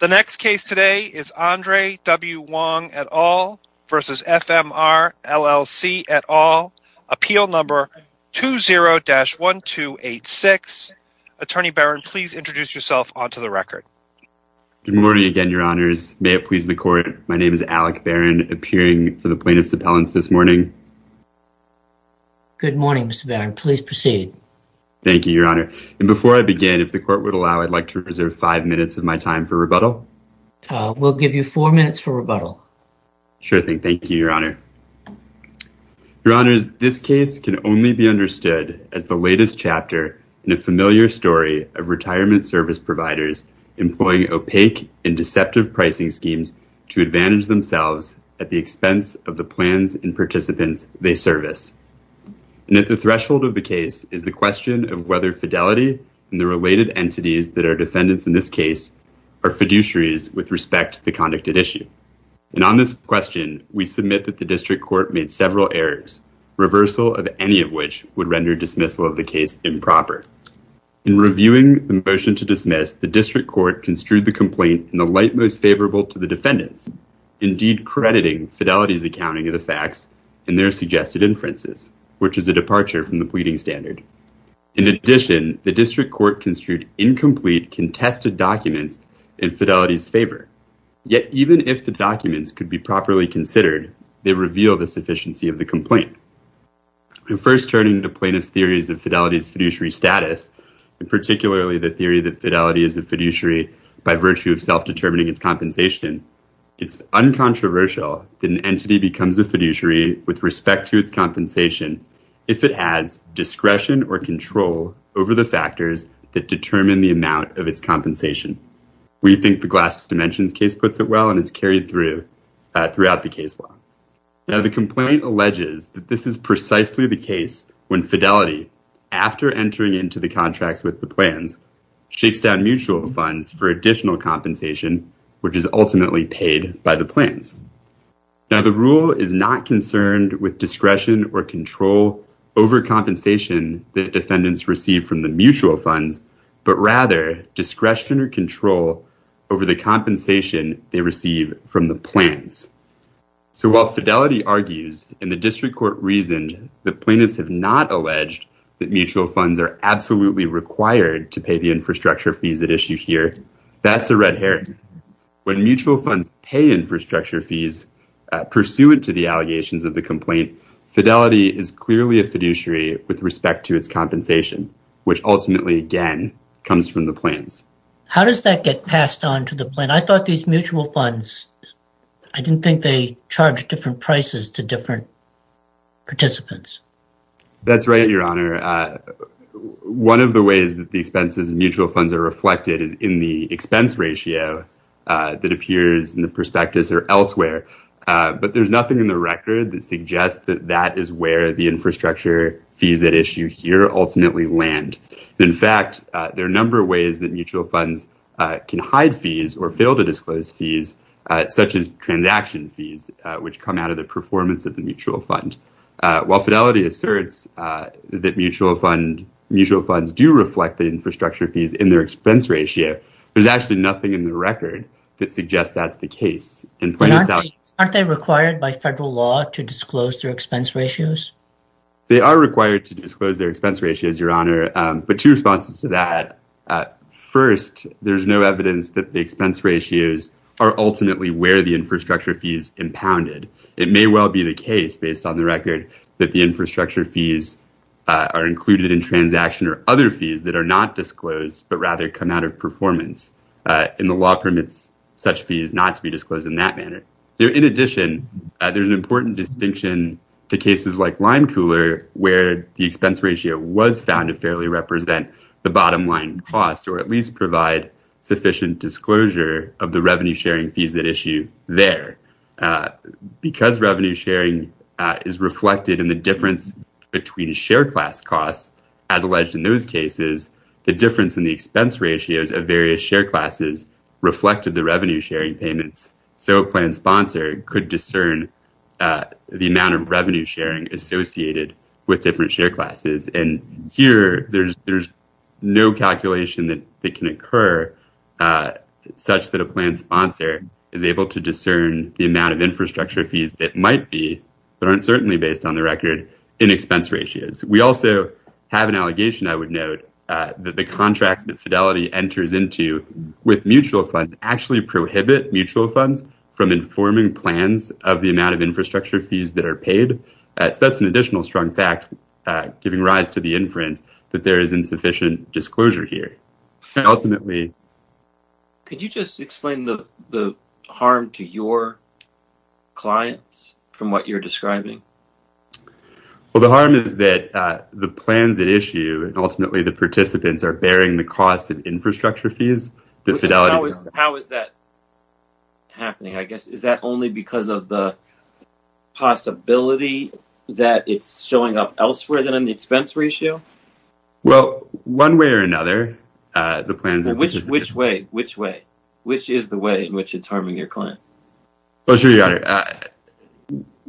The next case today is Andre W. Wong et al. v. FMR LLC et al. Appeal number 20-1286. Attorney Barron, please introduce yourself onto the record. Good morning again, your honors. May it please the court, my name is Alec Barron, appearing for the plaintiff's appellants this morning. Good morning, Mr. Barron. Please proceed. Thank you, your honor. And before I begin, if the court would allow, I'd like to reserve five minutes of my time for rebuttal. We'll give you four minutes for rebuttal. Sure thing, thank you, your honor. Your honors, this case can only be understood as the latest chapter in a familiar story of retirement service providers employing opaque and deceptive pricing schemes to advantage themselves at the expense of the plans and participants they service. And at the threshold of the case is the question of whether fidelity and the related entities that are defendants in this case are fiduciaries with respect to the conducted issue. And on this question, we submit that the district court made several errors, reversal of any of which would render dismissal of the case improper. In reviewing the motion to dismiss, the district court construed the complaint in the light most favorable to the defendants, indeed crediting Fidelity's accounting of the facts in their suggested inferences, which is a departure from the pleading standard. In addition, the district court construed incomplete contested documents in Fidelity's favor. Yet even if the documents could be properly considered, they reveal the sufficiency of the complaint. In first turning to plaintiff's theories of Fidelity's fiduciary status, and particularly the theory that Fidelity is a fiduciary by virtue of self-determining its compensation, it's uncontroversial that an entity becomes a fiduciary with respect to its compensation if it has discretion or control over the factors that determine the amount of its compensation. We think the Glass Dimensions case puts it well, and it's carried through throughout the case law. Now, the complaint alleges that this is precisely the case when Fidelity, after entering into the contracts with the plans, shakes down mutual funds for additional compensation, which is ultimately paid by the plans. Now, the rule is not concerned with discretion or control over compensation that defendants receive from the mutual funds, but rather, discretion or control over the compensation they receive from the plans. So while Fidelity argues, and the district court reasoned that plaintiffs have not alleged that mutual funds are absolutely required to pay the infrastructure fees at issue here, that's a red herring. When mutual funds pay infrastructure fees pursuant to the allegations of the complaint, Fidelity is clearly a fiduciary with respect to its compensation, which ultimately, again, comes from the plans. How does that get passed on to the plan? I thought these mutual funds, I didn't think they charged different prices to different participants. That's right, Your Honor. One of the ways that the expenses of mutual funds are reflected is in the expense ratio that appears in the prospectus or elsewhere, but there's nothing in the record that suggests that that is where the infrastructure fees at issue here ultimately land. In fact, there are a number of ways that mutual funds can hide fees or fail to disclose fees, such as transaction fees, which come out of the performance of the mutual fund. While Fidelity asserts that mutual funds do reflect the infrastructure fees in their expense ratio, there's actually nothing in the record that suggests that's the case. Aren't they required by federal law to disclose their expense ratios? They are required to disclose their expense ratios, Your Honor, but two responses to that. First, there's no evidence that the expense ratios are ultimately where the infrastructure fees impounded. It may well be the case, based on the record, that the infrastructure fees are included in transaction or other fees that are not disclosed, but rather come out of performance, and the law permits such fees not to be disclosed in that manner. In addition, there's an important distinction to cases like Lime Cooler, where the expense ratio was found to fairly represent the bottom line cost, or at least provide sufficient disclosure Because revenue sharing is reflected in the difference between share class costs, as alleged in those cases, the difference in the expense ratios of various share classes reflected the revenue sharing payments. So a plan sponsor could discern the amount of revenue sharing associated with different share classes. And here, there's no calculation that can occur such that a plan sponsor is able to discern the amount of infrastructure fees that might be, but aren't certainly based on the record, in expense ratios. We also have an allegation, I would note, that the contracts that Fidelity enters into with mutual funds actually prohibit mutual funds from informing plans of the amount of infrastructure fees that are paid. So that's an additional strong fact, giving rise to the inference that there is insufficient disclosure here. And ultimately... Could you just explain the harm to your clients from what you're describing? Well, the harm is that the plans at issue, and ultimately the participants, are bearing the cost of infrastructure fees that Fidelity's on. How is that happening? I guess, is that only because of the possibility that it's showing up elsewhere than in the expense ratio? Well, one way or another, the plans... Which way? Well, sure, your honor.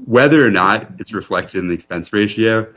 Whether or not it's reflected in the expense ratio,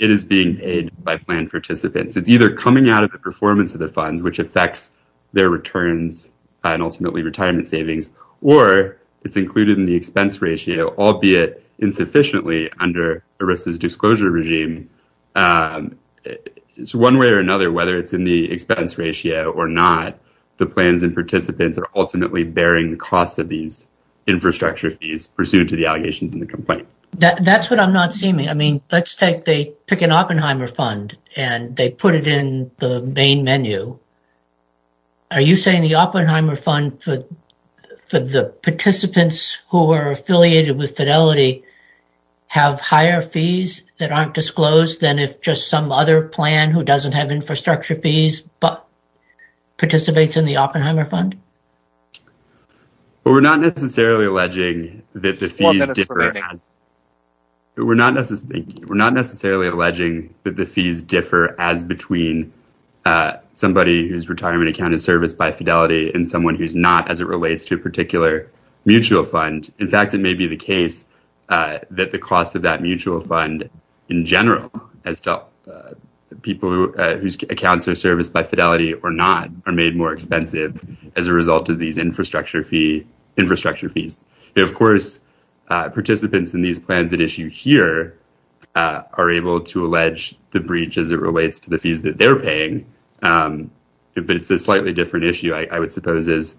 it is being paid by plan participants. It's either coming out of the performance of the funds, which affects their returns, and ultimately retirement savings, or it's included in the expense ratio, albeit insufficiently under ERISA's disclosure regime. So one way or another, whether it's in the expense ratio or not, the plans and participants are ultimately bearing the cost of these infrastructure fees, pursuant to the allegations in the complaint. That's what I'm not seeing. I mean, let's take the Picken-Oppenheimer Fund, and they put it in the main menu. Are you saying the Oppenheimer Fund, for the participants who are affiliated with Fidelity, have higher fees that aren't disclosed than if just some other plan who doesn't have infrastructure fees, but participates in the Oppenheimer Fund? Well, we're not necessarily alleging that the fees differ as between somebody whose retirement account is serviced by Fidelity and someone who's not, as it relates to a particular mutual fund. In fact, it may be the case that the cost of that mutual fund, in general, as to people whose accounts are serviced by Fidelity or not, are made more expensive as a result of that mutual fund. As a result of these infrastructure fees. Of course, participants in these plans at issue here are able to allege the breach as it relates to the fees that they're paying. But it's a slightly different issue, I would suppose, as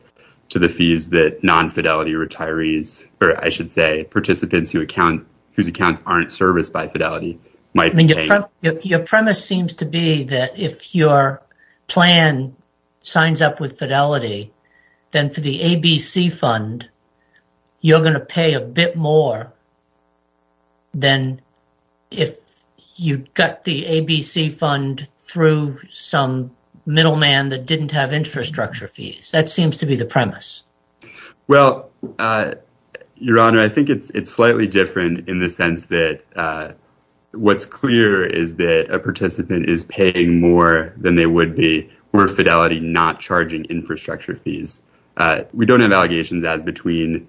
to the fees that non-Fidelity retirees, or I should say, participants whose accounts aren't serviced by Fidelity, might pay. Your premise seems to be that if your plan signs up with Fidelity, then for the ABC Fund, you're gonna pay a bit more than if you got the ABC Fund through some middleman that didn't have infrastructure fees. That seems to be the premise. Well, Your Honor, I think it's slightly different in the sense that what's clear is that a participant is paying more than they would be were Fidelity not charging infrastructure fees. We don't have allegations as between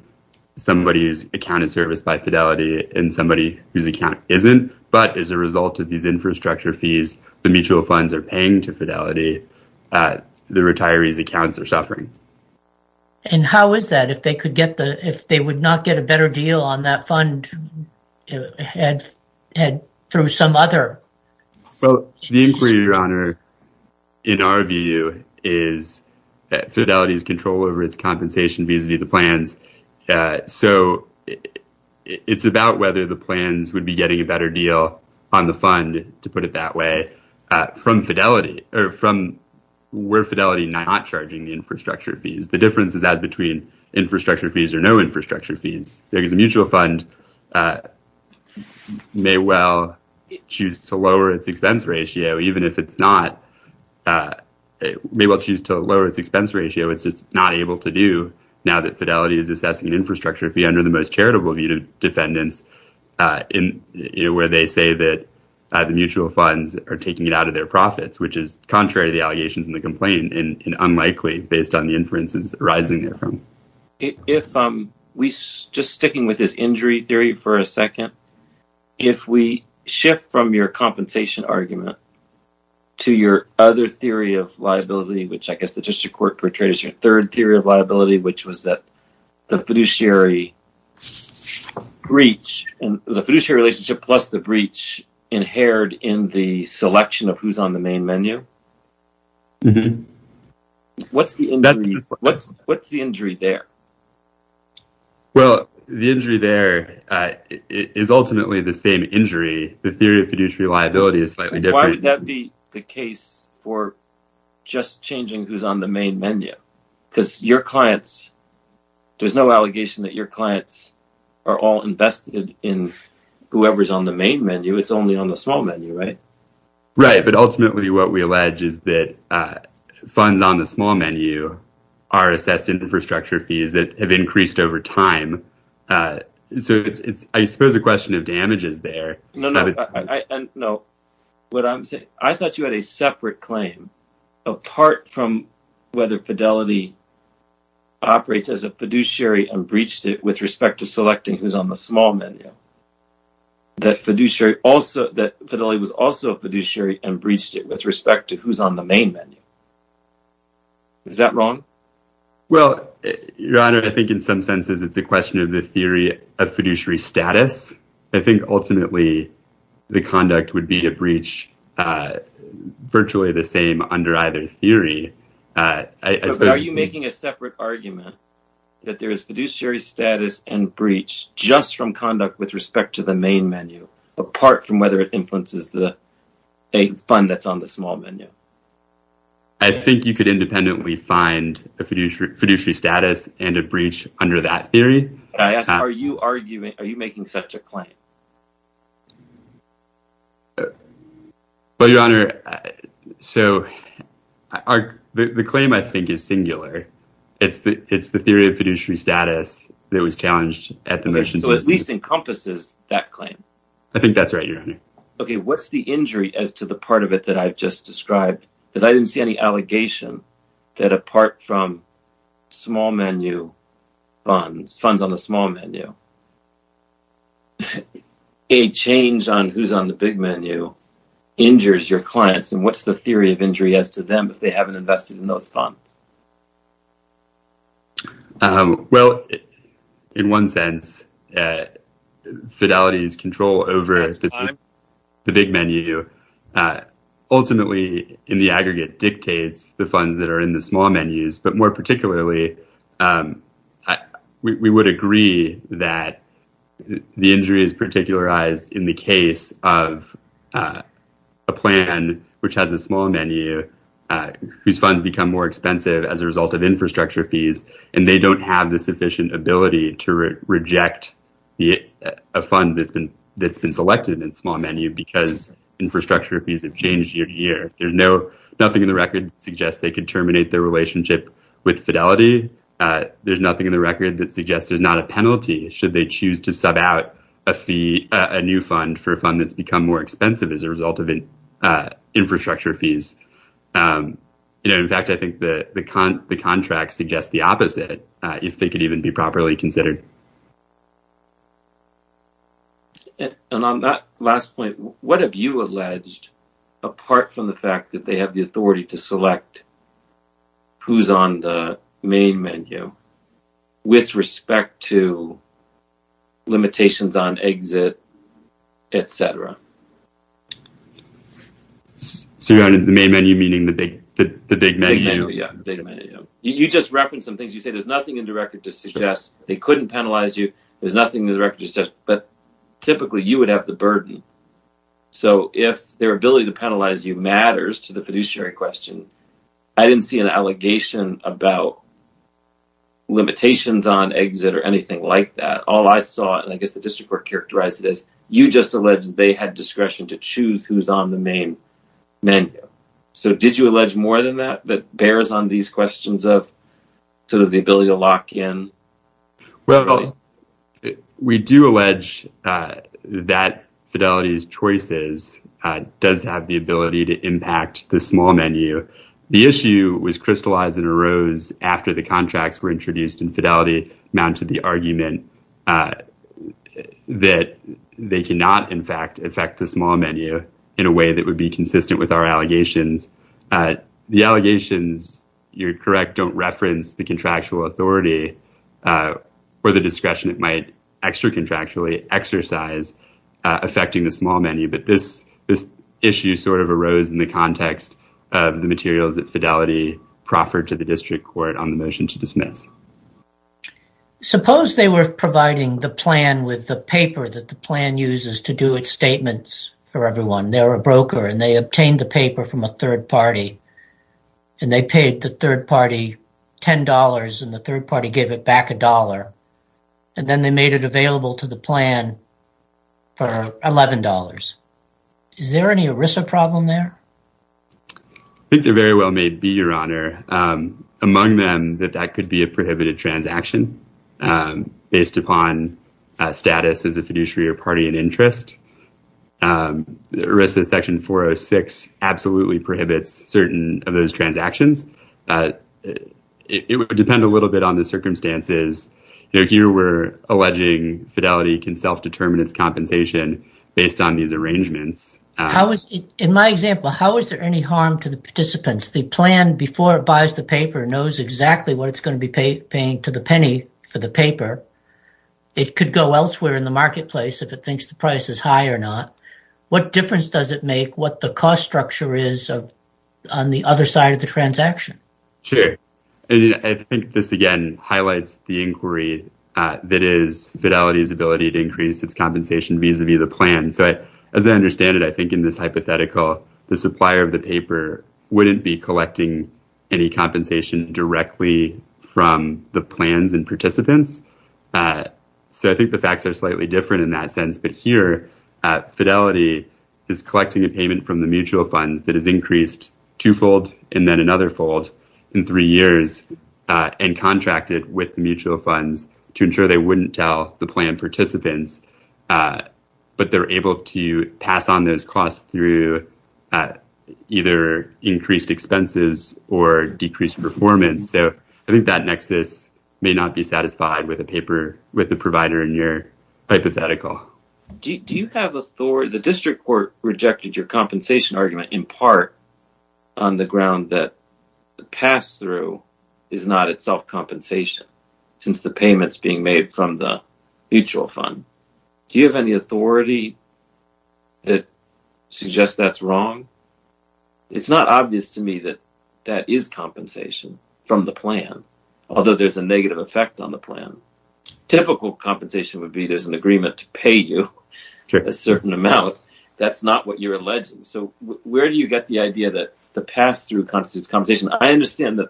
somebody whose account is serviced by Fidelity and somebody whose account isn't. But as a result of these infrastructure fees, the mutual funds are paying to Fidelity. The retirees accounts are suffering. And how is that if they would not get a better deal on that fund through some other? Well, the inquiry, Your Honor, in our view, is that Fidelity's control over its compensation vis-a-vis the plans. So it's about whether the plans would be getting a better deal on the fund, to put it that way, from Fidelity, or from where Fidelity not charging the infrastructure fees. The difference is as between infrastructure fees or no infrastructure fees. Because a mutual fund may well choose to lower its expense ratio, even if it's not, may well choose to lower its expense ratio. It's just not able to do, now that Fidelity is assessing infrastructure fee under the most charitable view of defendants, where they say that the mutual funds are taking it out of their profits, which is contrary to the allegations in the complaint and unlikely based on the inferences arising therefrom. If we, just sticking with this injury theory for a second, if we shift from your compensation argument to your other theory of liability, which I guess the district court portrayed as your third theory of liability, which was that the fiduciary breach, the fiduciary relationship plus the breach inhered in the selection of who's on the main menu. What's the injury there? Well, the injury there is ultimately the same injury. The theory of fiduciary liability is slightly different. Why would that be the case for just changing who's on the main menu? Because your clients, there's no allegation that your clients are all invested in whoever's on the main menu. It's only on the small menu, right? Right, but ultimately what we elect is the person who's on the main menu. So, we don't pledge that funds on the small menu are assessed in infrastructure fees that have increased over time. So, I suppose the question of damage is there. No, no, no, what I'm saying, I thought you had a separate claim apart from whether Fidelity operates as a fiduciary and breached it with respect to selecting who's on the small menu. That Fidelity was also a fiduciary and breached it with respect to who's on the main menu. Is that wrong? Well, your honor, I think in some senses it's a question of the theory of fiduciary status. I think ultimately the conduct would be a breach virtually the same under either theory. Are you making a separate argument that there is fiduciary status and breach just from conduct with respect to the main menu apart from whether it influences the fund that's on the small menu? I think you could independently find a fiduciary status and a breach under that theory. I asked, are you arguing, are you making such a claim? Well, your honor, so the claim I think is singular. It's the theory of fiduciary status that was challenged at the motion. So, at least encompasses that claim. I think that's right, your honor. Okay, what's the injury as to the part of it that I've just described? Because I didn't see any allegation that apart from small menu funds, funds on the small menu, a change on who's on the big menu injures your clients. And what's the theory of injury as to them if they haven't invested in those funds? Well, in one sense, fidelity is control over the big menu. Ultimately, in the aggregate dictates the funds that are in the small menus, but more particularly, we would agree that the injury is particularized in the case of a plan which has a small menu whose funds become more expensive as a result of infrastructure fees, and they don't have the sufficient ability to reject a fund that's been selected in small menu because infrastructure fees have changed year to year. There's nothing in the record that suggests they could terminate their relationship with fidelity. There's nothing in the record that suggests there's not a penalty should they choose to sub out a new fund for a fund that's become more expensive as a result of infrastructure fees. In fact, I think the contract suggests the opposite if they could even be properly considered. And on that last point, what have you alleged apart from the fact that they have the authority to select who's on the main menu with respect to limitations on exit, et cetera? So you're on the main menu, meaning the big menu? The big menu, yeah, the data menu, yeah. You just referenced some things. You said there's nothing in the record to suggest they couldn't penalize you. There's nothing in the record to suggest, but typically you would have the burden. So if their ability to penalize you matters to the fiduciary question, I didn't see an allegation about limitations on exit or anything like that. All I saw, and I guess the district court characterized it as, you just alleged they had the authority and discretion to choose who's on the main menu. So did you allege more than that that bears on these questions of sort of the ability to lock in? We do allege that Fidelity's choices does have the ability to impact the small menu. The issue was crystallized and arose after the contracts were introduced and Fidelity mounted the argument that they cannot in fact affect the small menu in a way that would be consistent with our allegations. The allegations, you're correct, don't reference the contractual authority or the discretion it might extra contractually exercise affecting the small menu. But this issue sort of arose in the context of the materials that Fidelity proffered to the district court on the motion to dismiss. Suppose they were providing the plan with the paper that the plan uses to do its statements for everyone. They're a broker and they obtained the paper from a third party and they paid the third party $10 and the third party gave it back a dollar. And then they made it available to the plan for $11. Is there any ERISA problem there? I think they're very well made, be your honor. Among them that that could be a prohibited transaction based upon status as a fiduciary or party in interest. The ERISA section 406 absolutely prohibits certain of those transactions. It would depend a little bit on the circumstances. Here we're alleging Fidelity can self-determine its compensation based on these arrangements. In my example, how is there any harm to the participants? The plan before it buys the paper knows exactly what it's gonna be paying to the penny for the paper. It could go elsewhere in the marketplace if it thinks the price is high or not. What difference does it make what the cost structure is on the other side of the transaction? Sure, I think this again highlights the inquiry that is Fidelity's ability to increase its compensation vis-a-vis the plan. So as I understand it, I think in this hypothetical the supplier of the paper wouldn't be collecting any compensation directly from the plans and participants. So I think the facts are slightly different in that sense. But here Fidelity is collecting a payment from the mutual funds that has increased twofold and then another fold in three years and contracted with the mutual funds to ensure they wouldn't tell the plan participants. But they're able to pass on those costs through either increased expenses or decreased performance. So I think that nexus may not be satisfied with the provider in your hypothetical. Do you have authority, the district court rejected your compensation argument in part on the ground that the pass-through is not itself compensation since the payment's being made from the mutual fund. Do you have any authority that suggests that's wrong? It's not obvious to me that that is compensation from the plan, although there's a negative effect on the plan. Typical compensation would be there's an agreement to pay you a certain amount. That's not what you're alleging. So where do you get the idea that the pass-through constitutes compensation? I understand that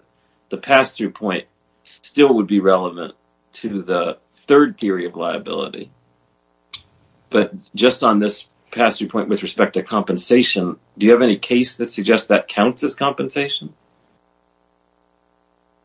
the pass-through point still would be relevant to the third theory of liability. But just on this pass-through point with respect to compensation, do you have any case that suggests that counts as compensation?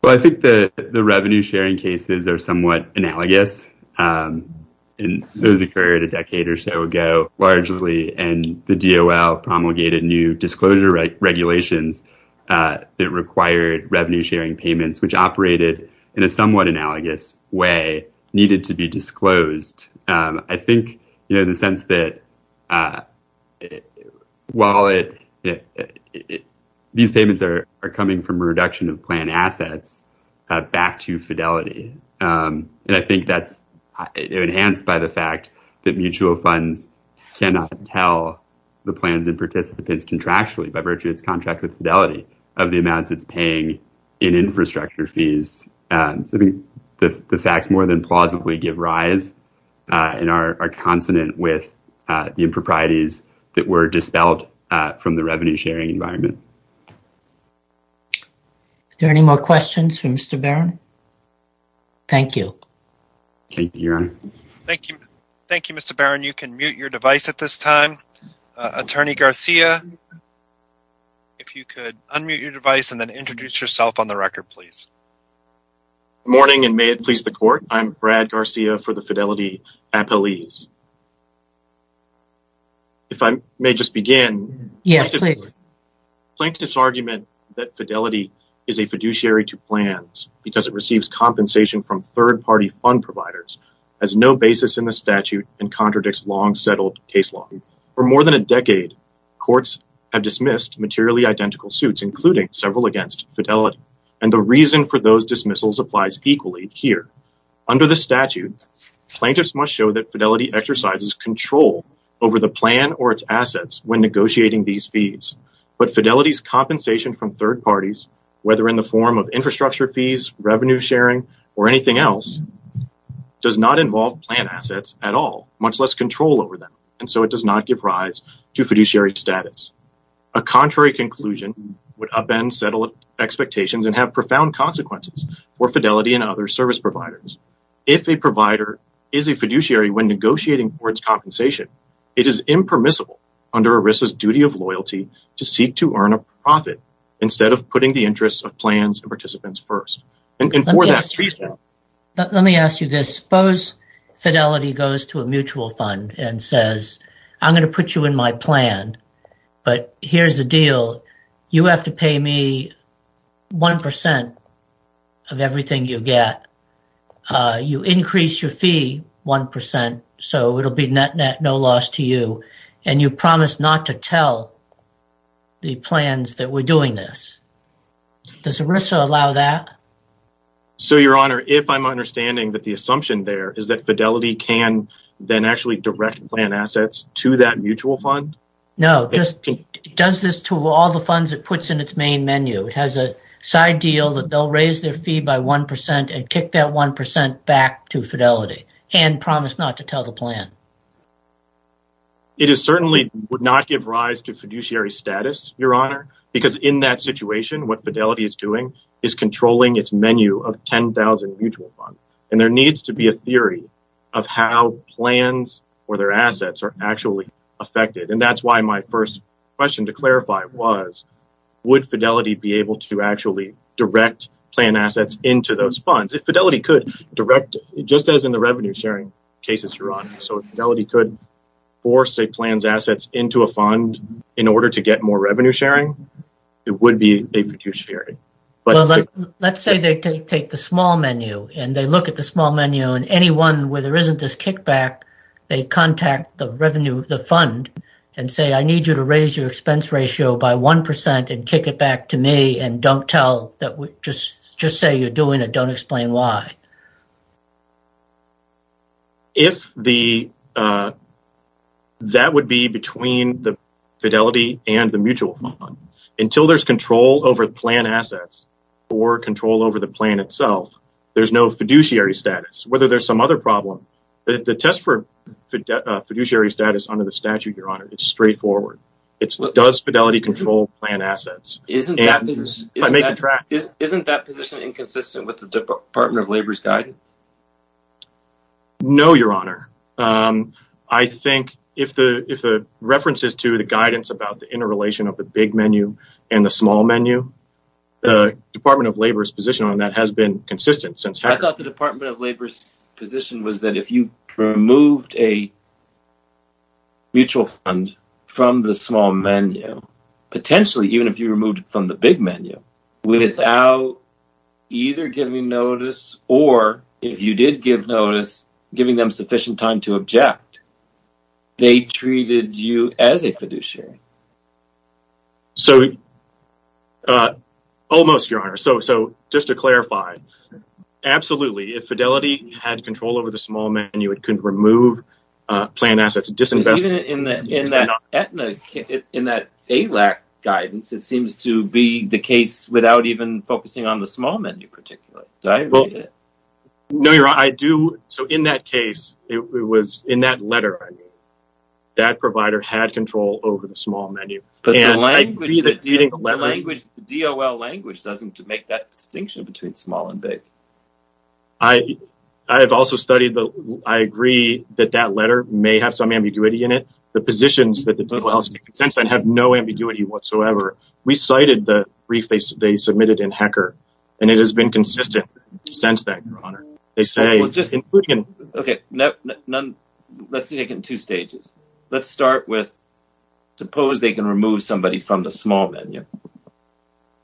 Well, I think that the revenue sharing cases are somewhat analogous. And those occurred a decade or so ago, largely and the DOL promulgated new disclosure regulations that required revenue sharing payments which operated in a somewhat analogous way needed to be disclosed. I think, you know, the sense that while these payments are coming from a reduction of plan assets back to fidelity. And I think that's enhanced by the fact that mutual funds cannot tell the plans and participants contractually by virtue of its contract with fidelity of the amounts it's paying in infrastructure fees. So I think the facts more than plausibly give rise in our consonant with the improprieties that were dispelled from the revenue sharing environment. Is there any more questions for Mr. Barron? Thank you. Thank you, Your Honor. Thank you, Mr. Barron. You can mute your device at this time. Attorney Garcia, if you could unmute your device and then introduce yourself on the record, please. Morning and may it please the court. I'm Brad Garcia for the fidelity appellees. If I may just begin plaintiff's argument that fidelity is a fiduciary to plans because it receives compensation from third party fund providers as no basis in the statute and contradicts long settled case law. For more than a decade, courts have dismissed materially identical suits including several against fidelity. And the reason for those dismissals applies equally here. Under the statute, plaintiffs must show that fidelity exercises control over the plan or its assets when negotiating these fees. But fidelity's compensation from third parties whether in the form of infrastructure fees, revenue sharing or anything else does not involve plan assets at all, much less control over them. And so it does not give rise to fiduciary status. A contrary conclusion would upend settled expectations and have profound consequences for fidelity and other service providers. If a provider is a fiduciary when negotiating for its compensation, it is impermissible under ERISA's duty of loyalty to seek to earn a profit instead of putting the interests of plans and participants first. And for that reason- Let me ask you this. Suppose fidelity goes to a mutual fund and says, I'm gonna put you in my plan, but here's the deal. You have to pay me 1% of everything you get. You increase your fee 1%, so it'll be net net no loss to you. And you promise not to tell the plans that we're doing this. Does ERISA allow that? So your honor, if I'm understanding that the assumption there is that fidelity can then actually direct plan assets to that mutual fund? No, it does this to all the funds it puts in its main menu. It has a side deal that they'll raise their fee by 1% and kick that 1% back to fidelity and promise not to tell the plan. It is certainly would not give rise to fiduciary status, your honor, because in that situation, what fidelity is doing is controlling its menu of 10,000 mutual funds. And there needs to be a theory of how plans or their assets are actually affected. And that's why my first question to clarify was, would fidelity be able to actually direct plan assets into those funds? If fidelity could direct, just as in the revenue sharing cases, your honor. So fidelity could force a plan's assets into a fund in order to get more revenue sharing. It would be a fiduciary. Well, let's say they take the small menu and they look at the small menu and any one where there isn't this kickback, they contact the revenue of the fund and say, I need you to raise your expense ratio by 1% and kick it back to me. And don't tell that, just say you're doing it. Don't explain why. If the, that would be between the fidelity and the mutual fund. Until there's control over the plan assets or control over the plan itself, there's no fiduciary status. Whether there's some other problem, the test for fiduciary status under the statute, your honor, it's straightforward. It's what does fidelity control plan assets? Isn't that position inconsistent with the Department of Labor's guidance? No, your honor. I think if the references to the guidance about the interrelation of the big menu and the small menu, the Department of Labor's position on that has been consistent since Hacker. I thought the Department of Labor's position was that if you removed a mutual fund from the small menu, potentially even if you removed it from the big menu, without either giving notice or if you did give notice, giving them sufficient time to object, they treated you as a fiduciary. So almost, your honor. So just to clarify, absolutely. If fidelity had control over the small menu, it couldn't remove plan assets, disinvestment. Even in that AILAC guidance, it seems to be the case without even focusing on the small menu particularly. Did I read it? No, your honor, I do. So in that case, it was in that letter, that provider had control over the small menu. But the language, the DOL language doesn't make that distinction between small and big. I have also studied the, I agree that that letter may have some ambiguity in it. The positions that the DOL has taken since then have no ambiguity whatsoever. We cited the brief they submitted in Hacker and it has been consistent since then, your honor. They say- Well just, okay, let's take it in two stages. Let's start with, suppose they can remove somebody from the small menu.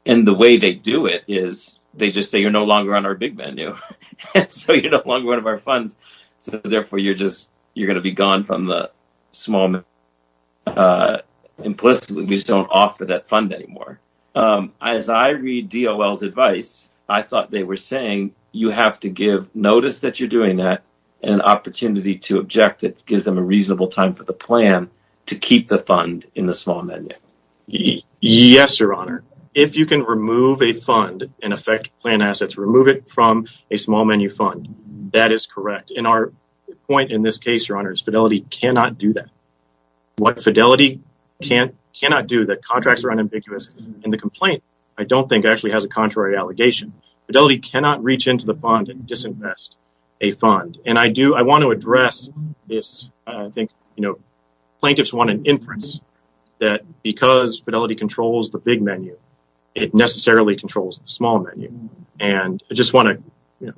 And the way they do it is, they just say, you're no longer on our big menu. So you're no longer one of our funds. So therefore you're just, you're gonna be gone from the small menu. Implicitly, we just don't offer that fund anymore. As I read DOL's advice, I thought they were saying, you have to give notice that you're doing that and an opportunity to object that gives them a reasonable time for the plan to keep the fund in the small menu. Yes, your honor. If you can remove a fund and affect plan assets, remove it from a small menu fund, that is correct. And our point in this case, your honor, is fidelity cannot do that. What fidelity cannot do, that contracts are unambiguous in the complaint, I don't think actually has a contrary allegation. Fidelity cannot reach into the fund and disinvest a fund. And I do, I wanna address this. I think, you know, plaintiffs want an inference that because fidelity controls the big menu, it necessarily controls the small menu. And I just wanna, you know,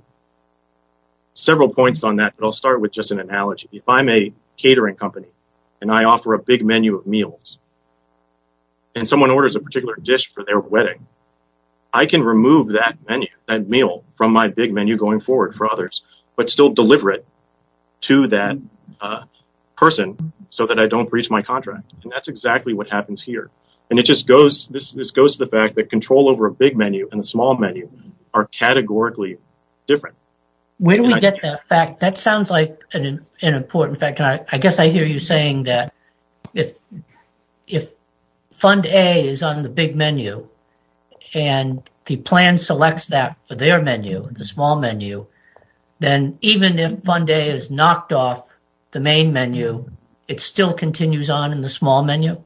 several points on that, but I'll start with just an analogy. If I'm a catering company and I offer a big menu of meals and someone orders a particular dish for their wedding, I can remove that menu, that meal, from my big menu going forward for others, but still deliver it to that person so that I don't breach my contract. And that's exactly what happens here. And it just goes, this goes to the fact that control over a big menu and a small menu are categorically different. When we get that fact, that sounds like an important fact. I guess I hear you saying that if fund A is on the big menu and the plan selects that for their menu, the small menu, then even if fund A is knocked off the main menu, it still continues on in the small menu?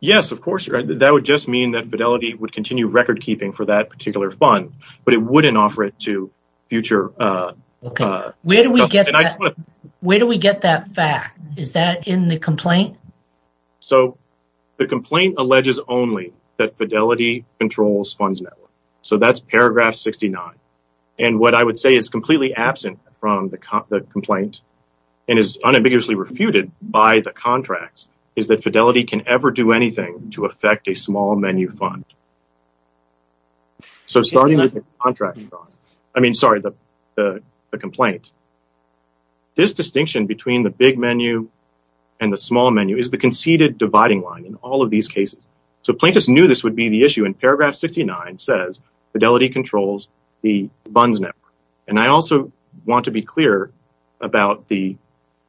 Yes, of course. That would just mean that fidelity would continue record keeping for that particular fund, but it wouldn't offer it to future. Where do we get that? Where do we get that fact? Is that in the complaint? So the complaint alleges only that fidelity controls funds network. So that's paragraph 69. And what I would say is completely absent from the complaint and is unambiguously refuted by the contracts is that fidelity can ever do anything to affect a small menu fund. So starting with the contract, I mean, sorry, the complaint, this distinction between the big menu and the small menu is the conceded dividing line in all of these cases. So plaintiffs knew this would be the issue in paragraph 69 says fidelity controls the funds network. And I also want to be clear about the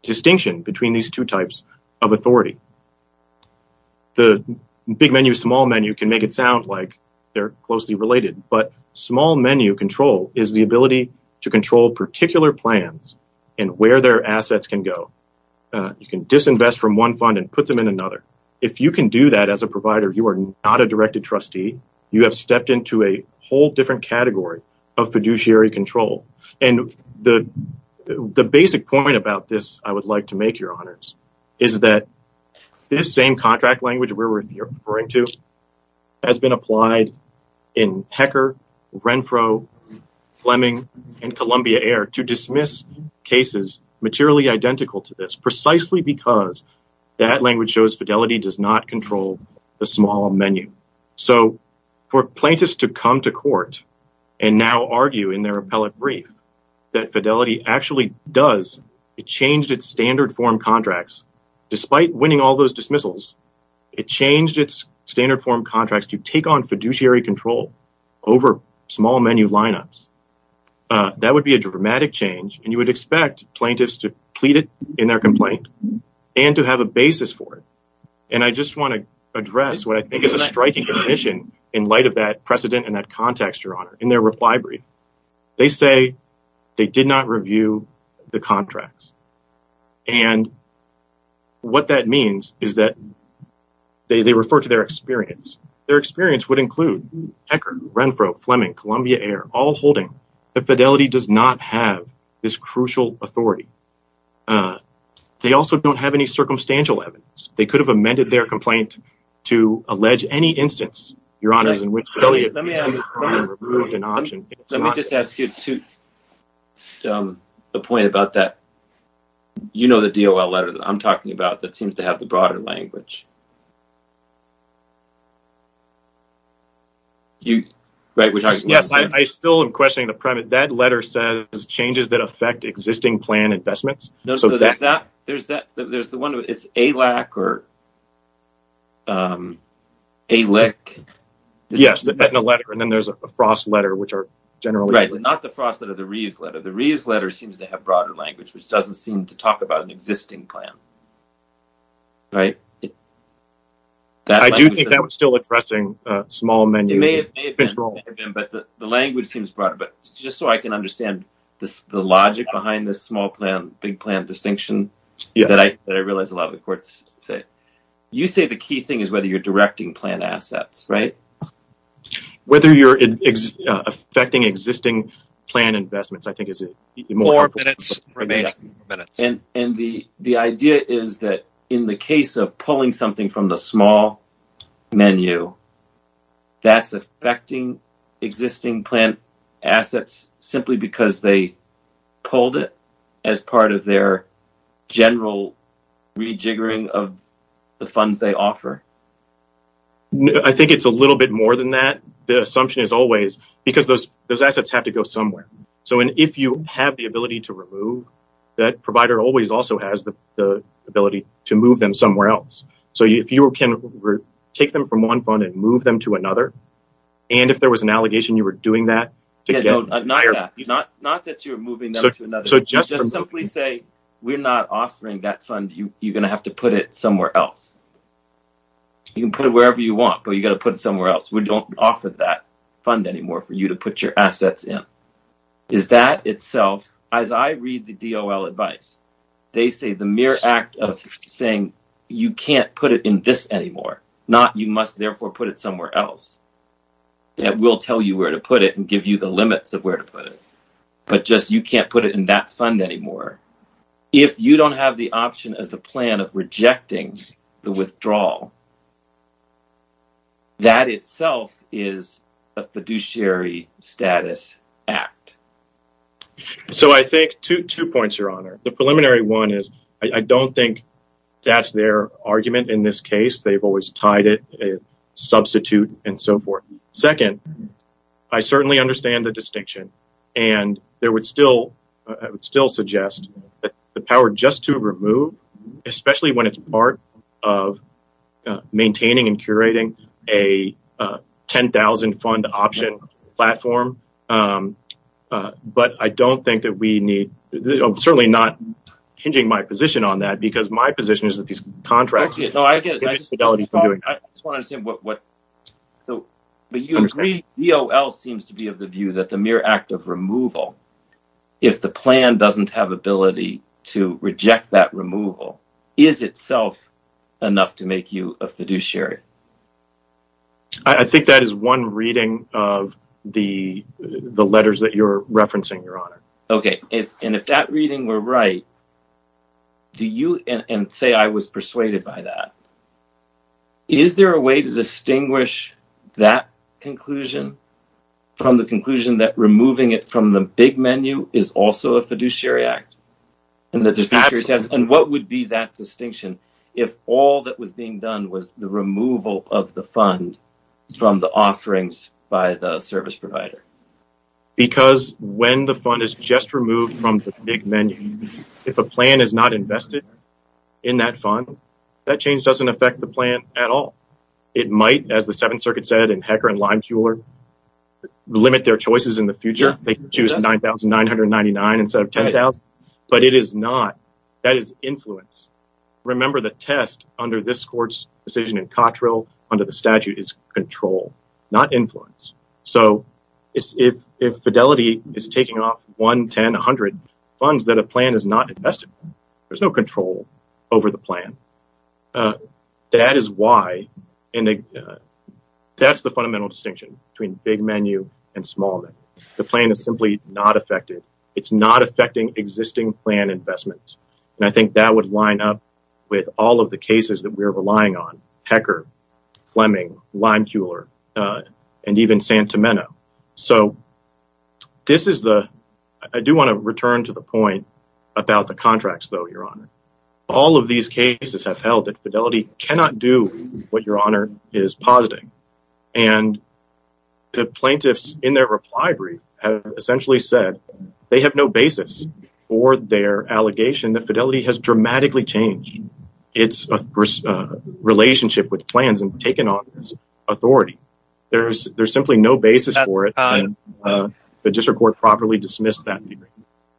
distinction between these two types of authority. The big menu, small menu can make it sound like they're closely related, but small menu control is the ability to control particular plans and where their assets can go. You can disinvest from one fund and put them in another. If you can do that as a provider, you are not a directed trustee. You have stepped into a whole different category of fiduciary control. And the basic point about this I would like to make your honors is that this same contract language we're referring to has been applied in Hecker, Renfro, Fleming and Columbia Air to dismiss cases materially identical to this precisely because that language shows fidelity does not control the small menu. So for plaintiffs to come to court and now argue in their appellate brief that fidelity actually does, it changed its standard form contracts. Despite winning all those dismissals, it changed its standard form contracts to take on fiduciary control over small menu lineups. That would be a dramatic change. And you would expect plaintiffs to plead it in their complaint and to have a basis for it. And I just wanna address what I think is a striking admission in light of that precedent and that context your honor in their reply brief. They say they did not review the contracts. And what that means is that they refer to their experience. Their experience would include Hecker, Renfro, Fleming, Columbia Air, all holding that fidelity does not have this crucial authority. They also don't have any circumstantial evidence. They could have amended their complaint to allege any instance, your honors, in which fidelity has been removed an option. So let me just ask you a point about that. You know, the DOL letter that I'm talking about that seems to have the broader language. You, right, we're talking about the same. Yes, I still am questioning the premise. That letter says changes that affect existing plan investments. No, so there's that, there's the one, it's ALAC or ALIC. Yes, the Betina letter and then there's a Frost letter, which are generally. Right, but not the Frost letter, the Reeves letter. The Reeves letter seems to have broader language, which doesn't seem to talk about an existing plan. Right? I do think that was still addressing a small menu. It may have been, but the language seems broader. But just so I can understand the logic behind this small plan, big plan distinction that I realize a lot of the courts say. You say the key thing is whether you're directing plan assets, right? Whether you're affecting existing plan investments, I think is more important. Four minutes remaining, four minutes. And the idea is that in the case of pulling something from the small menu, that's affecting existing plan assets simply because they pulled it as part of their general rejiggering of the funds they offer. I think it's a little bit more than that. The assumption is always, because those assets have to go somewhere. So if you have the ability to remove that provider always also has the ability to move them somewhere else. So if you can take them from one fund and move them to another, and if there was an allegation you were doing that. Not that you're moving them to another. So just simply say, we're not offering that fund. You're gonna have to put it somewhere else. You can put it wherever you want, but you gotta put it somewhere else. We don't offer that fund anymore for you to put your assets in. Is that itself, as I read the DOL advice, they say the mere act of saying, you can't put it in this anymore. Not you must therefore put it somewhere else. That will tell you where to put it and give you the limits of where to put it. But just you can't put it in that fund anymore. If you don't have the option as the plan of rejecting the withdrawal, that itself is a fiduciary status act. So I think two points, your honor. The preliminary one is, I don't think that's their argument in this case. They've always tied it, substitute and so forth. Second, I certainly understand the distinction and I would still suggest that the power just to remove, especially when it's part of maintaining and curating a 10,000 fund option platform. But I don't think that we need, certainly not hinging my position on that because my position is that these contracts. No, I get it. I just want to understand what. But you agree DOL seems to be of the view that the mere act of removal, if the plan doesn't have ability to reject that removal, is itself enough to make you a fiduciary? I think that is one reading of the letters that you're referencing, your honor. Okay, and if that reading were right, do you and say, I was persuaded by that. Is there a way to distinguish that conclusion from the conclusion that removing it from the big menu is also a fiduciary act? And what would be that distinction if all that was being done was the removal of the fund from the offerings by the service provider? Because when the fund is just removed from the big menu, if a plan is not invested in that fund, that change doesn't affect the plan at all. It might, as the Seventh Circuit said in Hecker and Limeculer, limit their choices in the future. They can choose 9,999 instead of 10,000, but it is not, that is influence. Remember the test under this court's decision in Cottrell under the statute is control, not influence. So if Fidelity is taking off one, 10, 100 funds that a plan is not invested in, there's no control over the plan. That is why, and that's the fundamental distinction between big menu and small menu. The plan is simply not effective. It's not affecting existing plan investments. And I think that would line up with all of the cases that we're relying on, Hecker, Fleming, Limeculer, and even Santomeno. So this is the, I do wanna return to the point about the contracts though, Your Honor. All of these cases have held that Fidelity cannot do what Your Honor is positing. And the plaintiffs in their reply brief have essentially said they have no basis for their allegation that Fidelity has dramatically changed its relationship with plans and taken on this authority. There's simply no basis for it. And the district court properly dismissed that.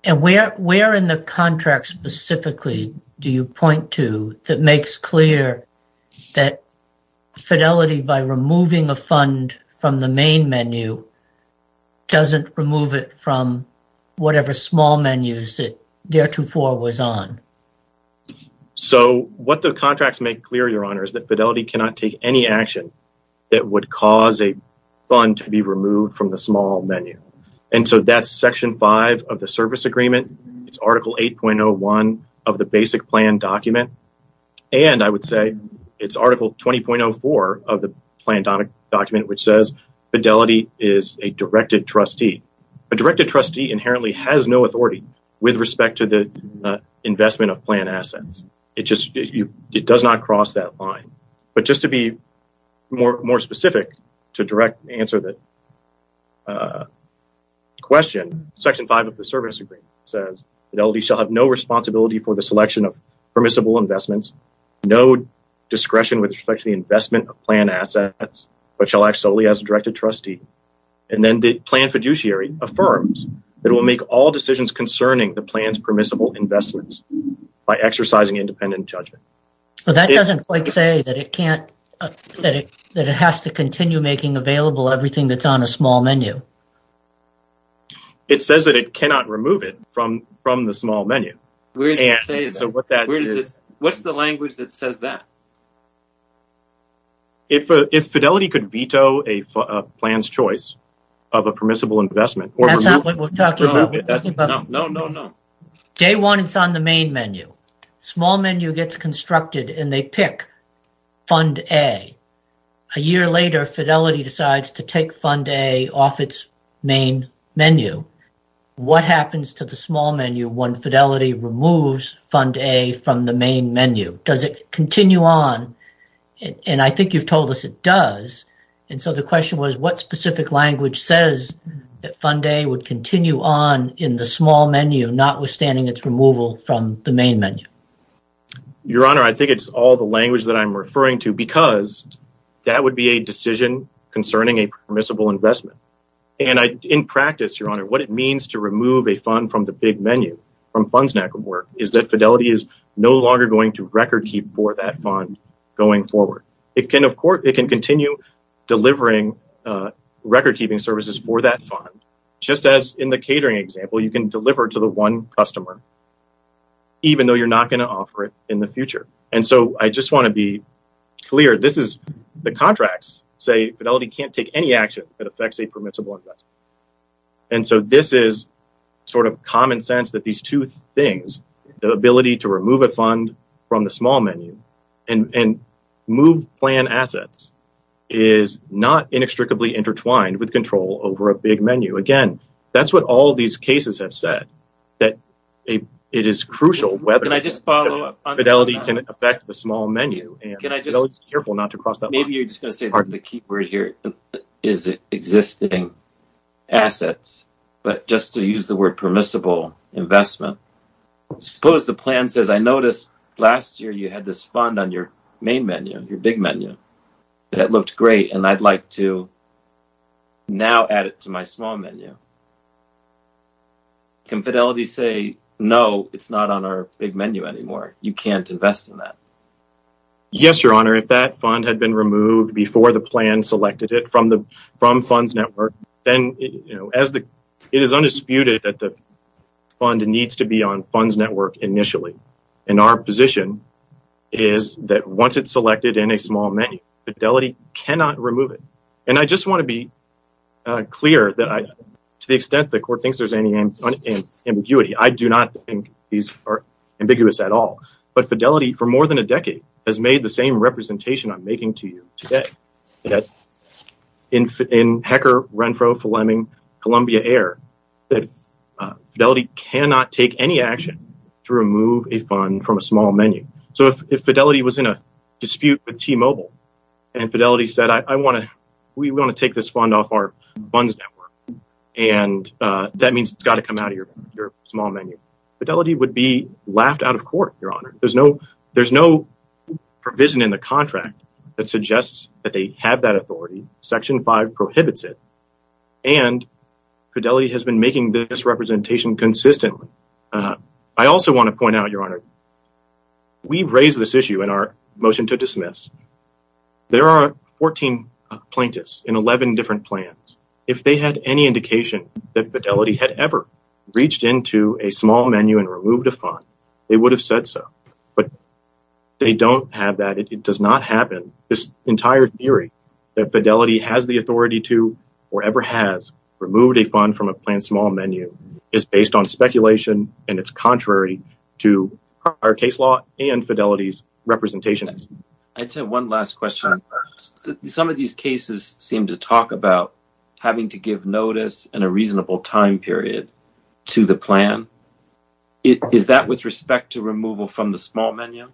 And where in the contract specifically do you point to that makes clear that Fidelity by removing a fund from the main menu doesn't remove it from whatever small menus that theretofore was on? So what the contracts make clear, Your Honor, is that Fidelity cannot take any action that would cause a fund to be removed from the small menu. And so that's section five of the service agreement. It's article 8.01 of the basic plan document. And I would say it's article 20.04 of the plan document, which says Fidelity is a directed trustee. A directed trustee inherently has no authority with respect to the investment of plan assets. It just, it does not cross that line. But just to be more specific to direct answer to that question, section five of the service agreement says Fidelity shall have no responsibility for the selection of permissible investments, no discretion with respect to the investment of plan assets, but shall act solely as a directed trustee. And then the plan fiduciary affirms that it will make all decisions concerning the plan's permissible investments by exercising independent judgment. Well, that doesn't quite say that it can't, that it has to continue making available everything that's on a small menu. It says that it cannot remove it from the small menu. Where does it say that? What's the language that says that? If Fidelity could veto a plan's choice of a permissible investment. That's not what we're talking about. No, no, no. Day one, it's on the main menu. Small menu gets constructed and they pick fund A. A year later, Fidelity decides to take fund A off its main menu. What happens to the small menu when Fidelity removes fund A from the main menu? Does it continue on? And I think you've told us it does. And so the question was what specific language says that fund A would continue on in the small menu, notwithstanding its removal from the main menu? Your Honor, I think it's all the language that I'm referring to because that would be a decision concerning a permissible investment. And in practice, Your Honor, what it means to remove a fund from the big menu from Funds Network is that Fidelity is no longer going to record keep for that fund going forward. It can continue delivering record keeping services for that fund, just as in the catering example, you can deliver to the one customer, even though you're not gonna offer it in the future. And so I just wanna be clear, this is the contracts say Fidelity can't take any action that affects a permissible investment. And so this is sort of common sense that these two things, the ability to remove a fund from the small menu and move plan assets is not inextricably intertwined with control over a big menu. Again, that's what all of these cases have said, that it is crucial whether Fidelity can affect the small menu. And Fidelity is careful not to cross that line. Maybe you're just gonna say the key word here is existing assets, but just to use the word permissible investment, suppose the plan says, I noticed last year you had this fund on your main menu, your big menu, that looked great. And I'd like to now add it to my small menu. Can Fidelity say, no, it's not on our big menu anymore. You can't invest in that. Yes, Your Honor, if that fund had been removed before the plan selected it from Funds Network, then it is undisputed that the fund needs to be on Funds Network initially. And our position is that once it's selected in a small menu, Fidelity cannot remove it. And I just wanna be clear that to the extent the court thinks there's any ambiguity, I do not think these are ambiguous at all. But Fidelity for more than a decade has made the same representation I'm making to you today, that in HECR, Renfro, Fleming, Columbia Air, that Fidelity cannot take any action to remove a fund from a small menu. So if Fidelity was in a dispute with T-Mobile and Fidelity said, I wanna, we wanna take this fund off our Funds Network. And that means it's gotta come out of your small menu. Fidelity would be laughed out of court, Your Honor. There's no provision in the contract that suggests that they have that authority. Section five prohibits it. And Fidelity has been making this representation consistently. I also wanna point out, Your Honor, we raised this issue in our motion to dismiss. There are 14 plaintiffs in 11 different plans. If they had any indication that Fidelity had ever reached into a small menu and removed a fund, they would have said so. But they don't have that. It does not happen. This entire theory that Fidelity has the authority to, or ever has, removed a fund from a planned small menu is based on speculation. And it's contrary to our case law and Fidelity's representation. I just have one last question. Some of these cases seem to talk about having to give notice in a reasonable time period to the plan. Is that with respect to removal from the small menu?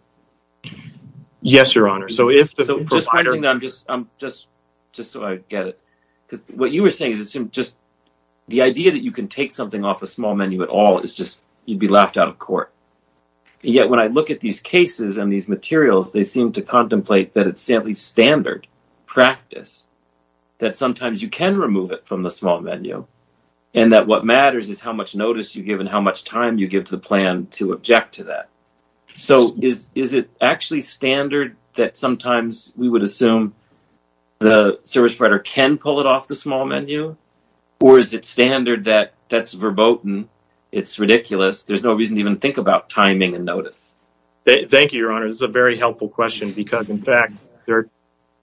Yes, Your Honor. So if the provider- Just one thing that I'm just, just so I get it. Because what you were saying is it seemed just, the idea that you can take something off a small menu at all is just, you'd be laughed out of court. Yet when I look at these cases and these materials, they seem to contemplate that it's simply standard practice that sometimes you can remove it from the small menu. And that what matters is how much notice you give and how much time you give to the plan to object to that. So is it actually standard that sometimes we would assume the service provider can pull it off the small menu? Or is it standard that that's verboten? It's ridiculous. There's no reason to even think about timing and notice. Thank you, Your Honor. This is a very helpful question because in fact, there are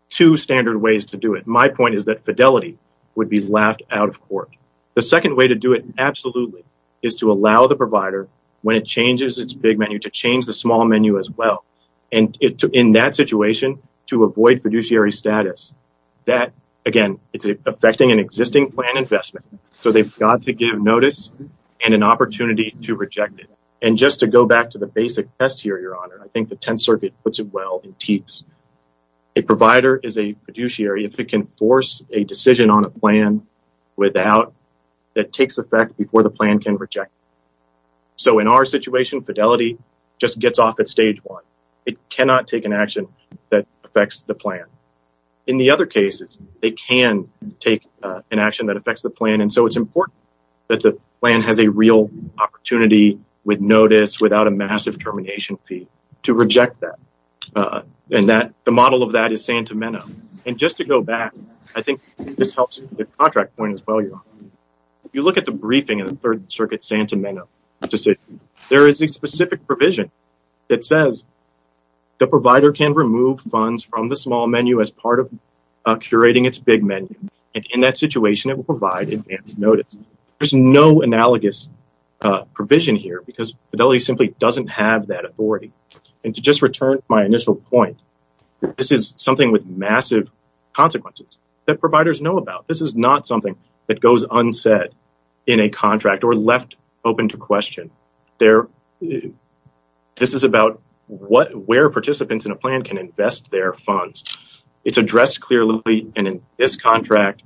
two standard ways to do it. My point is that fidelity would be laughed out of court. The second way to do it, absolutely, is to allow the provider, when it changes its big menu, to change the small menu as well. And in that situation, to avoid fiduciary status. That, again, it's affecting an existing plan investment. So they've got to give notice and an opportunity to reject it. And just to go back to the basic test here, Your Honor, I think the Tenth Circuit puts it well in TEATS. A provider is a fiduciary if it can force a decision on a plan without, that takes effect before the plan can reject it. So in our situation, fidelity just gets off at stage one. It cannot take an action that affects the plan. In the other cases, they can take an action that affects the plan. And so it's important that the plan has a real opportunity with notice, without a massive termination fee, to reject that. And the model of that is Santa Mena. And just to go back, I think this helps the contract point as well, Your Honor. If you look at the briefing in the Third Circuit Santa Mena decision, there is a specific provision that says the provider can remove funds from the small menu as part of curating its big menu. And in that situation, it will provide advance notice. There's no analogous provision here because fidelity simply doesn't have that authority. And to just return to my initial point, this is something with massive consequences that providers know about. This is not something that goes unsaid in a contract or left open to question. This is about where participants in a plan can invest their funds. It's addressed clearly. And in this contract,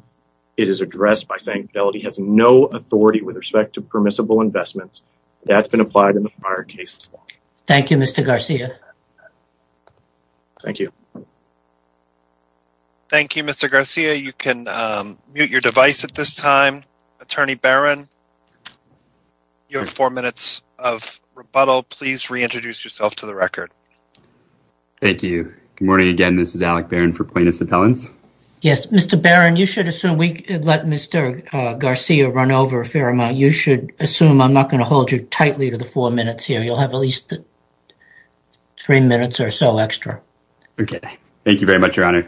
it is addressed by saying fidelity has no authority with respect to permissible investments. That's been applied in the prior cases. Thank you, Mr. Garcia. Thank you. Thank you, Mr. Garcia. You can mute your device at this time. Attorney Barron, you have four minutes of rebuttal. Please reintroduce yourself to the record. Thank you. Good morning again. This is Alec Barron for plaintiff's appellants. Yes, Mr. Barron, you should assume we let Mr. Garcia run over a fair amount. You should assume I'm not gonna hold you tightly to the four minutes here. You'll have at least three minutes or so extra. Okay. Thank you very much, Your Honor.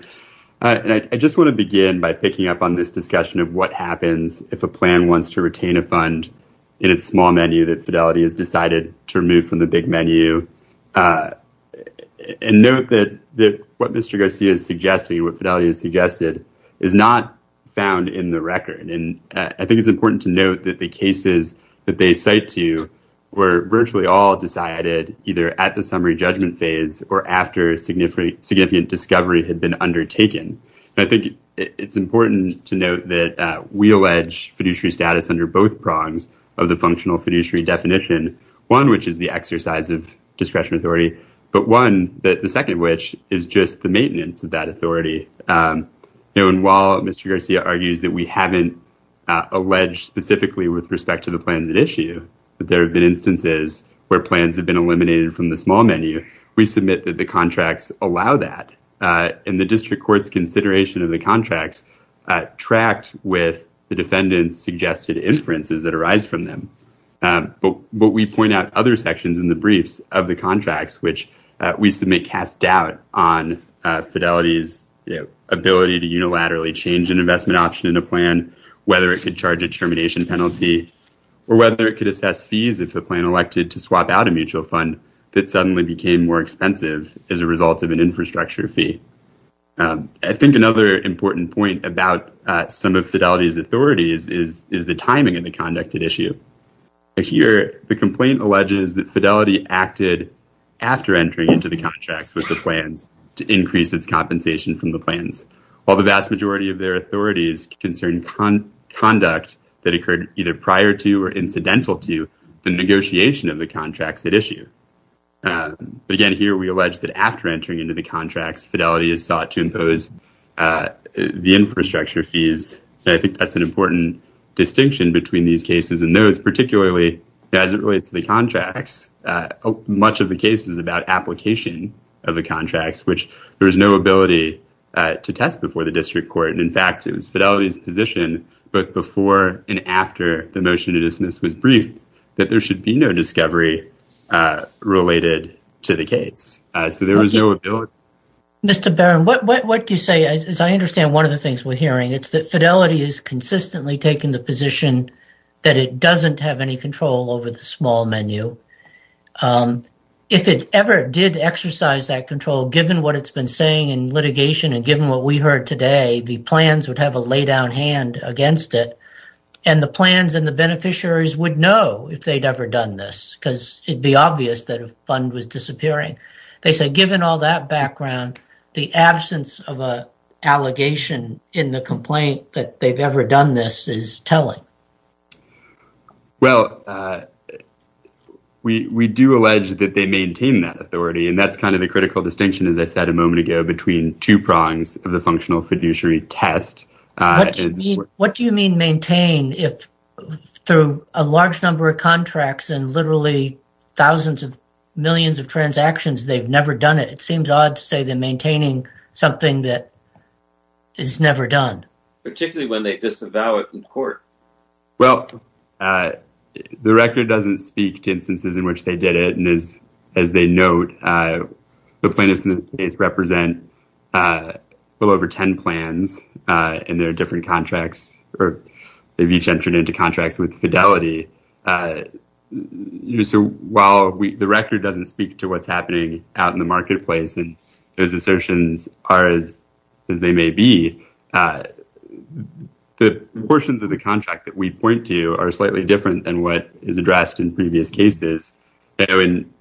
I just wanna begin by picking up on this discussion of what happens if a plan wants to retain a fund in its small menu that fidelity has decided to remove from the big menu. And note that what Mr. Garcia is suggesting, what fidelity has suggested, is not found in the record. And I think it's important to note that the cases that they cite to were virtually all decided either at the summary judgment phase or after significant discovery had been undertaken. And I think it's important to note that we allege fiduciary status under both prongs of the functional fiduciary definition, one which is the exercise of discretion authority, but one, the second which, is just the maintenance of that authority. And while Mr. Garcia argues that we haven't alleged specifically with respect to the plans at issue, that there have been instances where plans have been eliminated from the small menu, we submit that the contracts allow that. And the district court's consideration of the contracts tracked with the defendant's suggested inferences that arise from them. But we point out other sections in the briefs of the contracts, which we submit cast doubt on fidelity's ability to unilaterally change an investment option in a plan, whether it could charge a termination penalty, or whether it could assess fees if a plan elected to swap out a mutual fund that suddenly became more expensive as a result of an infrastructure fee. I think another important point about some of fidelity's authorities is the timing of the conducted issue. Here, the complaint alleges that fidelity acted after entering into the contracts with the plans to increase its compensation from the plans, while the vast majority of their authorities concerned conduct that occurred either prior to or incidental to the negotiation of the contracts at issue. But again, here we allege that after entering into the contracts, fidelity has sought to impose the infrastructure fees. So I think that's an important distinction between these cases and those, particularly as it relates to the contracts. Much of the case is about application of the contracts, which there is no ability to test before the district court. And in fact, it was fidelity's position, both before and after the motion to dismiss was briefed, that there should be no discovery related to the case. So there was no ability. Mr. Barron, what do you say, as I understand one of the things we're hearing, it's that fidelity is consistently taking the position that it doesn't have any control over the small menu. If it ever did exercise that control, given what it's been saying in litigation and given what we heard today, the plans would have a lay down hand against it. And the plans and the beneficiaries would know if they'd ever done this, because it'd be obvious that a fund was disappearing. They said, given all that background, the absence of a allegation in the complaint that they've ever done this is telling. Well, we do allege that they maintain that authority. And that's kind of the critical distinction, as I said a moment ago, between two prongs of the functional fiduciary test. What do you mean maintain if through a large number of contracts and literally thousands of millions of transactions, they've never done it? It seems odd to say they're maintaining something that is never done. Particularly when they disavow it in court. Well, the record doesn't speak to instances in which they did it. And as they note, the plaintiffs in this case represent a little over 10 plans in their different contracts, or they've each entered into contracts with fidelity. So while the record doesn't speak to what's happening out in the marketplace, and those assertions are as they may be, the portions of the contract that we point to are slightly different than what is addressed in previous cases. And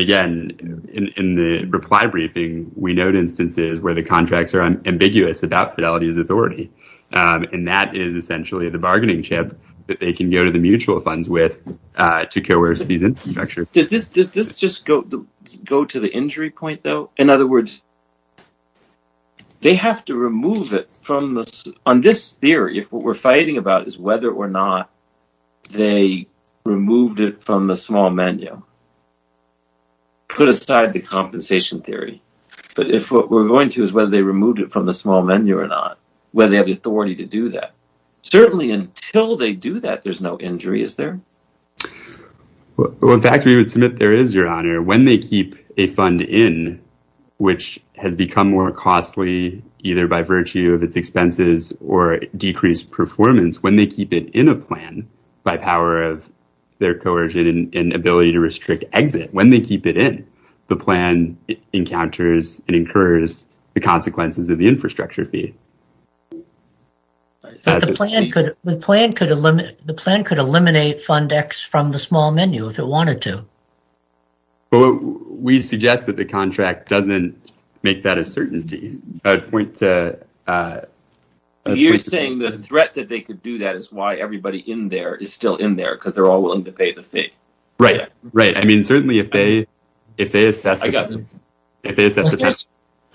again, in the reply briefing, we note instances where the contracts are ambiguous about fidelity's authority. And that is essentially the bargaining chip that they can go to the mutual funds with to coerce these infrastructure. Does this just go to the injury point though? In other words, they have to remove it from the, on this theory, if what we're fighting about is whether or not they removed it from the small menu, put aside the compensation theory. But if what we're going to is whether they removed it from the small menu or not, whether they have the authority to do that. Certainly until they do that, there's no injury, is there? Well, in fact, we would submit there is, Your Honor. When they keep a fund in, which has become more costly, either by virtue of its expenses or decreased performance, when they keep it in a plan, by power of their coercion and ability to restrict exit, when they keep it in, the plan encounters and incurs the consequences of the infrastructure fee. The plan could eliminate Fund X from the small menu if it wanted to. Well, we suggest that the contract doesn't make that a certainty. I'd point to- You're saying the threat that they could do that is why everybody in there is still in there because they're all willing to pay the fee. Right, right. I mean, certainly if they assess- I got it. If they assess-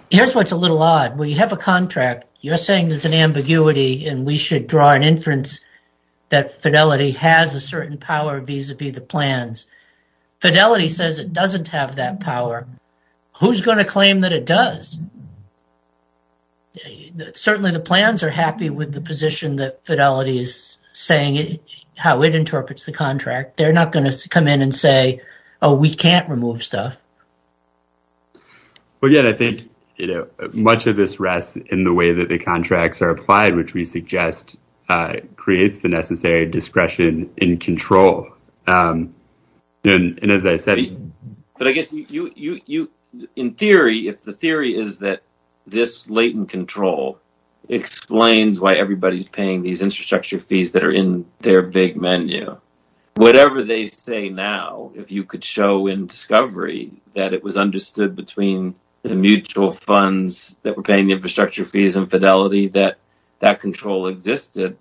Here's what's a little odd. We have a contract. You're saying there's an ambiguity and we should draw an inference that Fidelity has a certain power vis-a-vis the plans. Fidelity says it doesn't have that power. Who's going to claim that it does? Certainly the plans are happy with the position that Fidelity is saying how it interprets the contract. They're not going to come in and say, oh, we can't remove stuff. Well, again, I think much of this rests in the way that the contracts are applied, which we suggest creates the necessary discretion and control. And as I said- But I guess in theory, if the theory is that this latent control explains why everybody's paying these infrastructure fees that are in their big menu, whatever they say now, if you could show in discovery, that it was understood between the mutual funds that were paying the infrastructure fees and Fidelity that that control existed,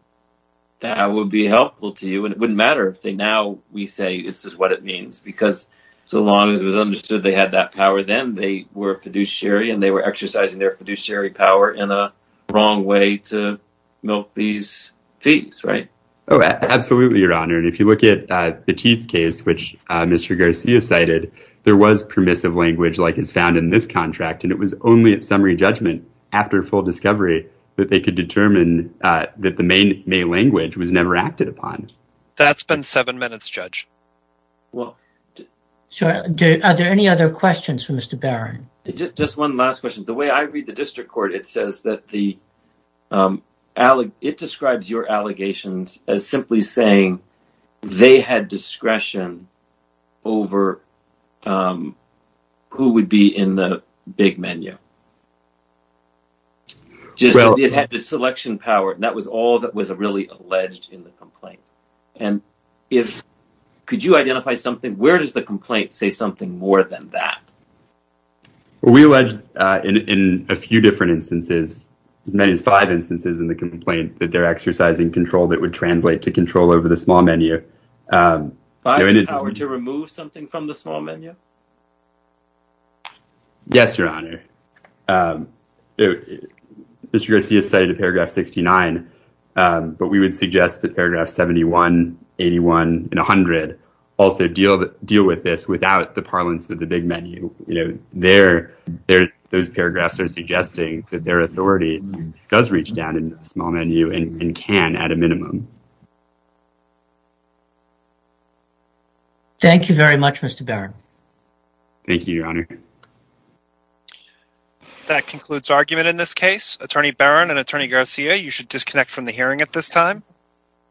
that would be helpful to you. And it wouldn't matter if they now, we say this is what it means because so long as it was understood they had that power, then they were fiduciary and they were exercising their fiduciary power in a wrong way to milk these fees, right? Oh, absolutely, your honor. And if you look at Petit's case, which Mr. Garcia cited, there was permissive language like is found in this contract. And it was only at summary judgment after full discovery that they could determine that the main language was never acted upon. That's been seven minutes, judge. So are there any other questions for Mr. Barron? Just one last question. The way I read the district court, it says that it describes your allegations as simply saying they had discretion over who would be in the big menu. Just that it had the selection power. And that was all that was really alleged in the complaint. And if, could you identify something, where does the complaint say something more than that? We alleged in a few different instances, as many as five instances in the complaint that they're exercising control that would translate to control over the small menu. By the power to remove something from the small menu? Yes, Your Honor. Mr. Garcia cited paragraph 69, but we would suggest that paragraph 71, 81 and 100 also deal with this without the parlance of the big menu. There, those paragraphs are suggesting that their authority does reach down into the small menu and can at a minimum. Thank you very much, Mr. Barron. Thank you, Your Honor. That concludes argument in this case. Attorney Barron and Attorney Garcia, you should disconnect from the hearing at this time.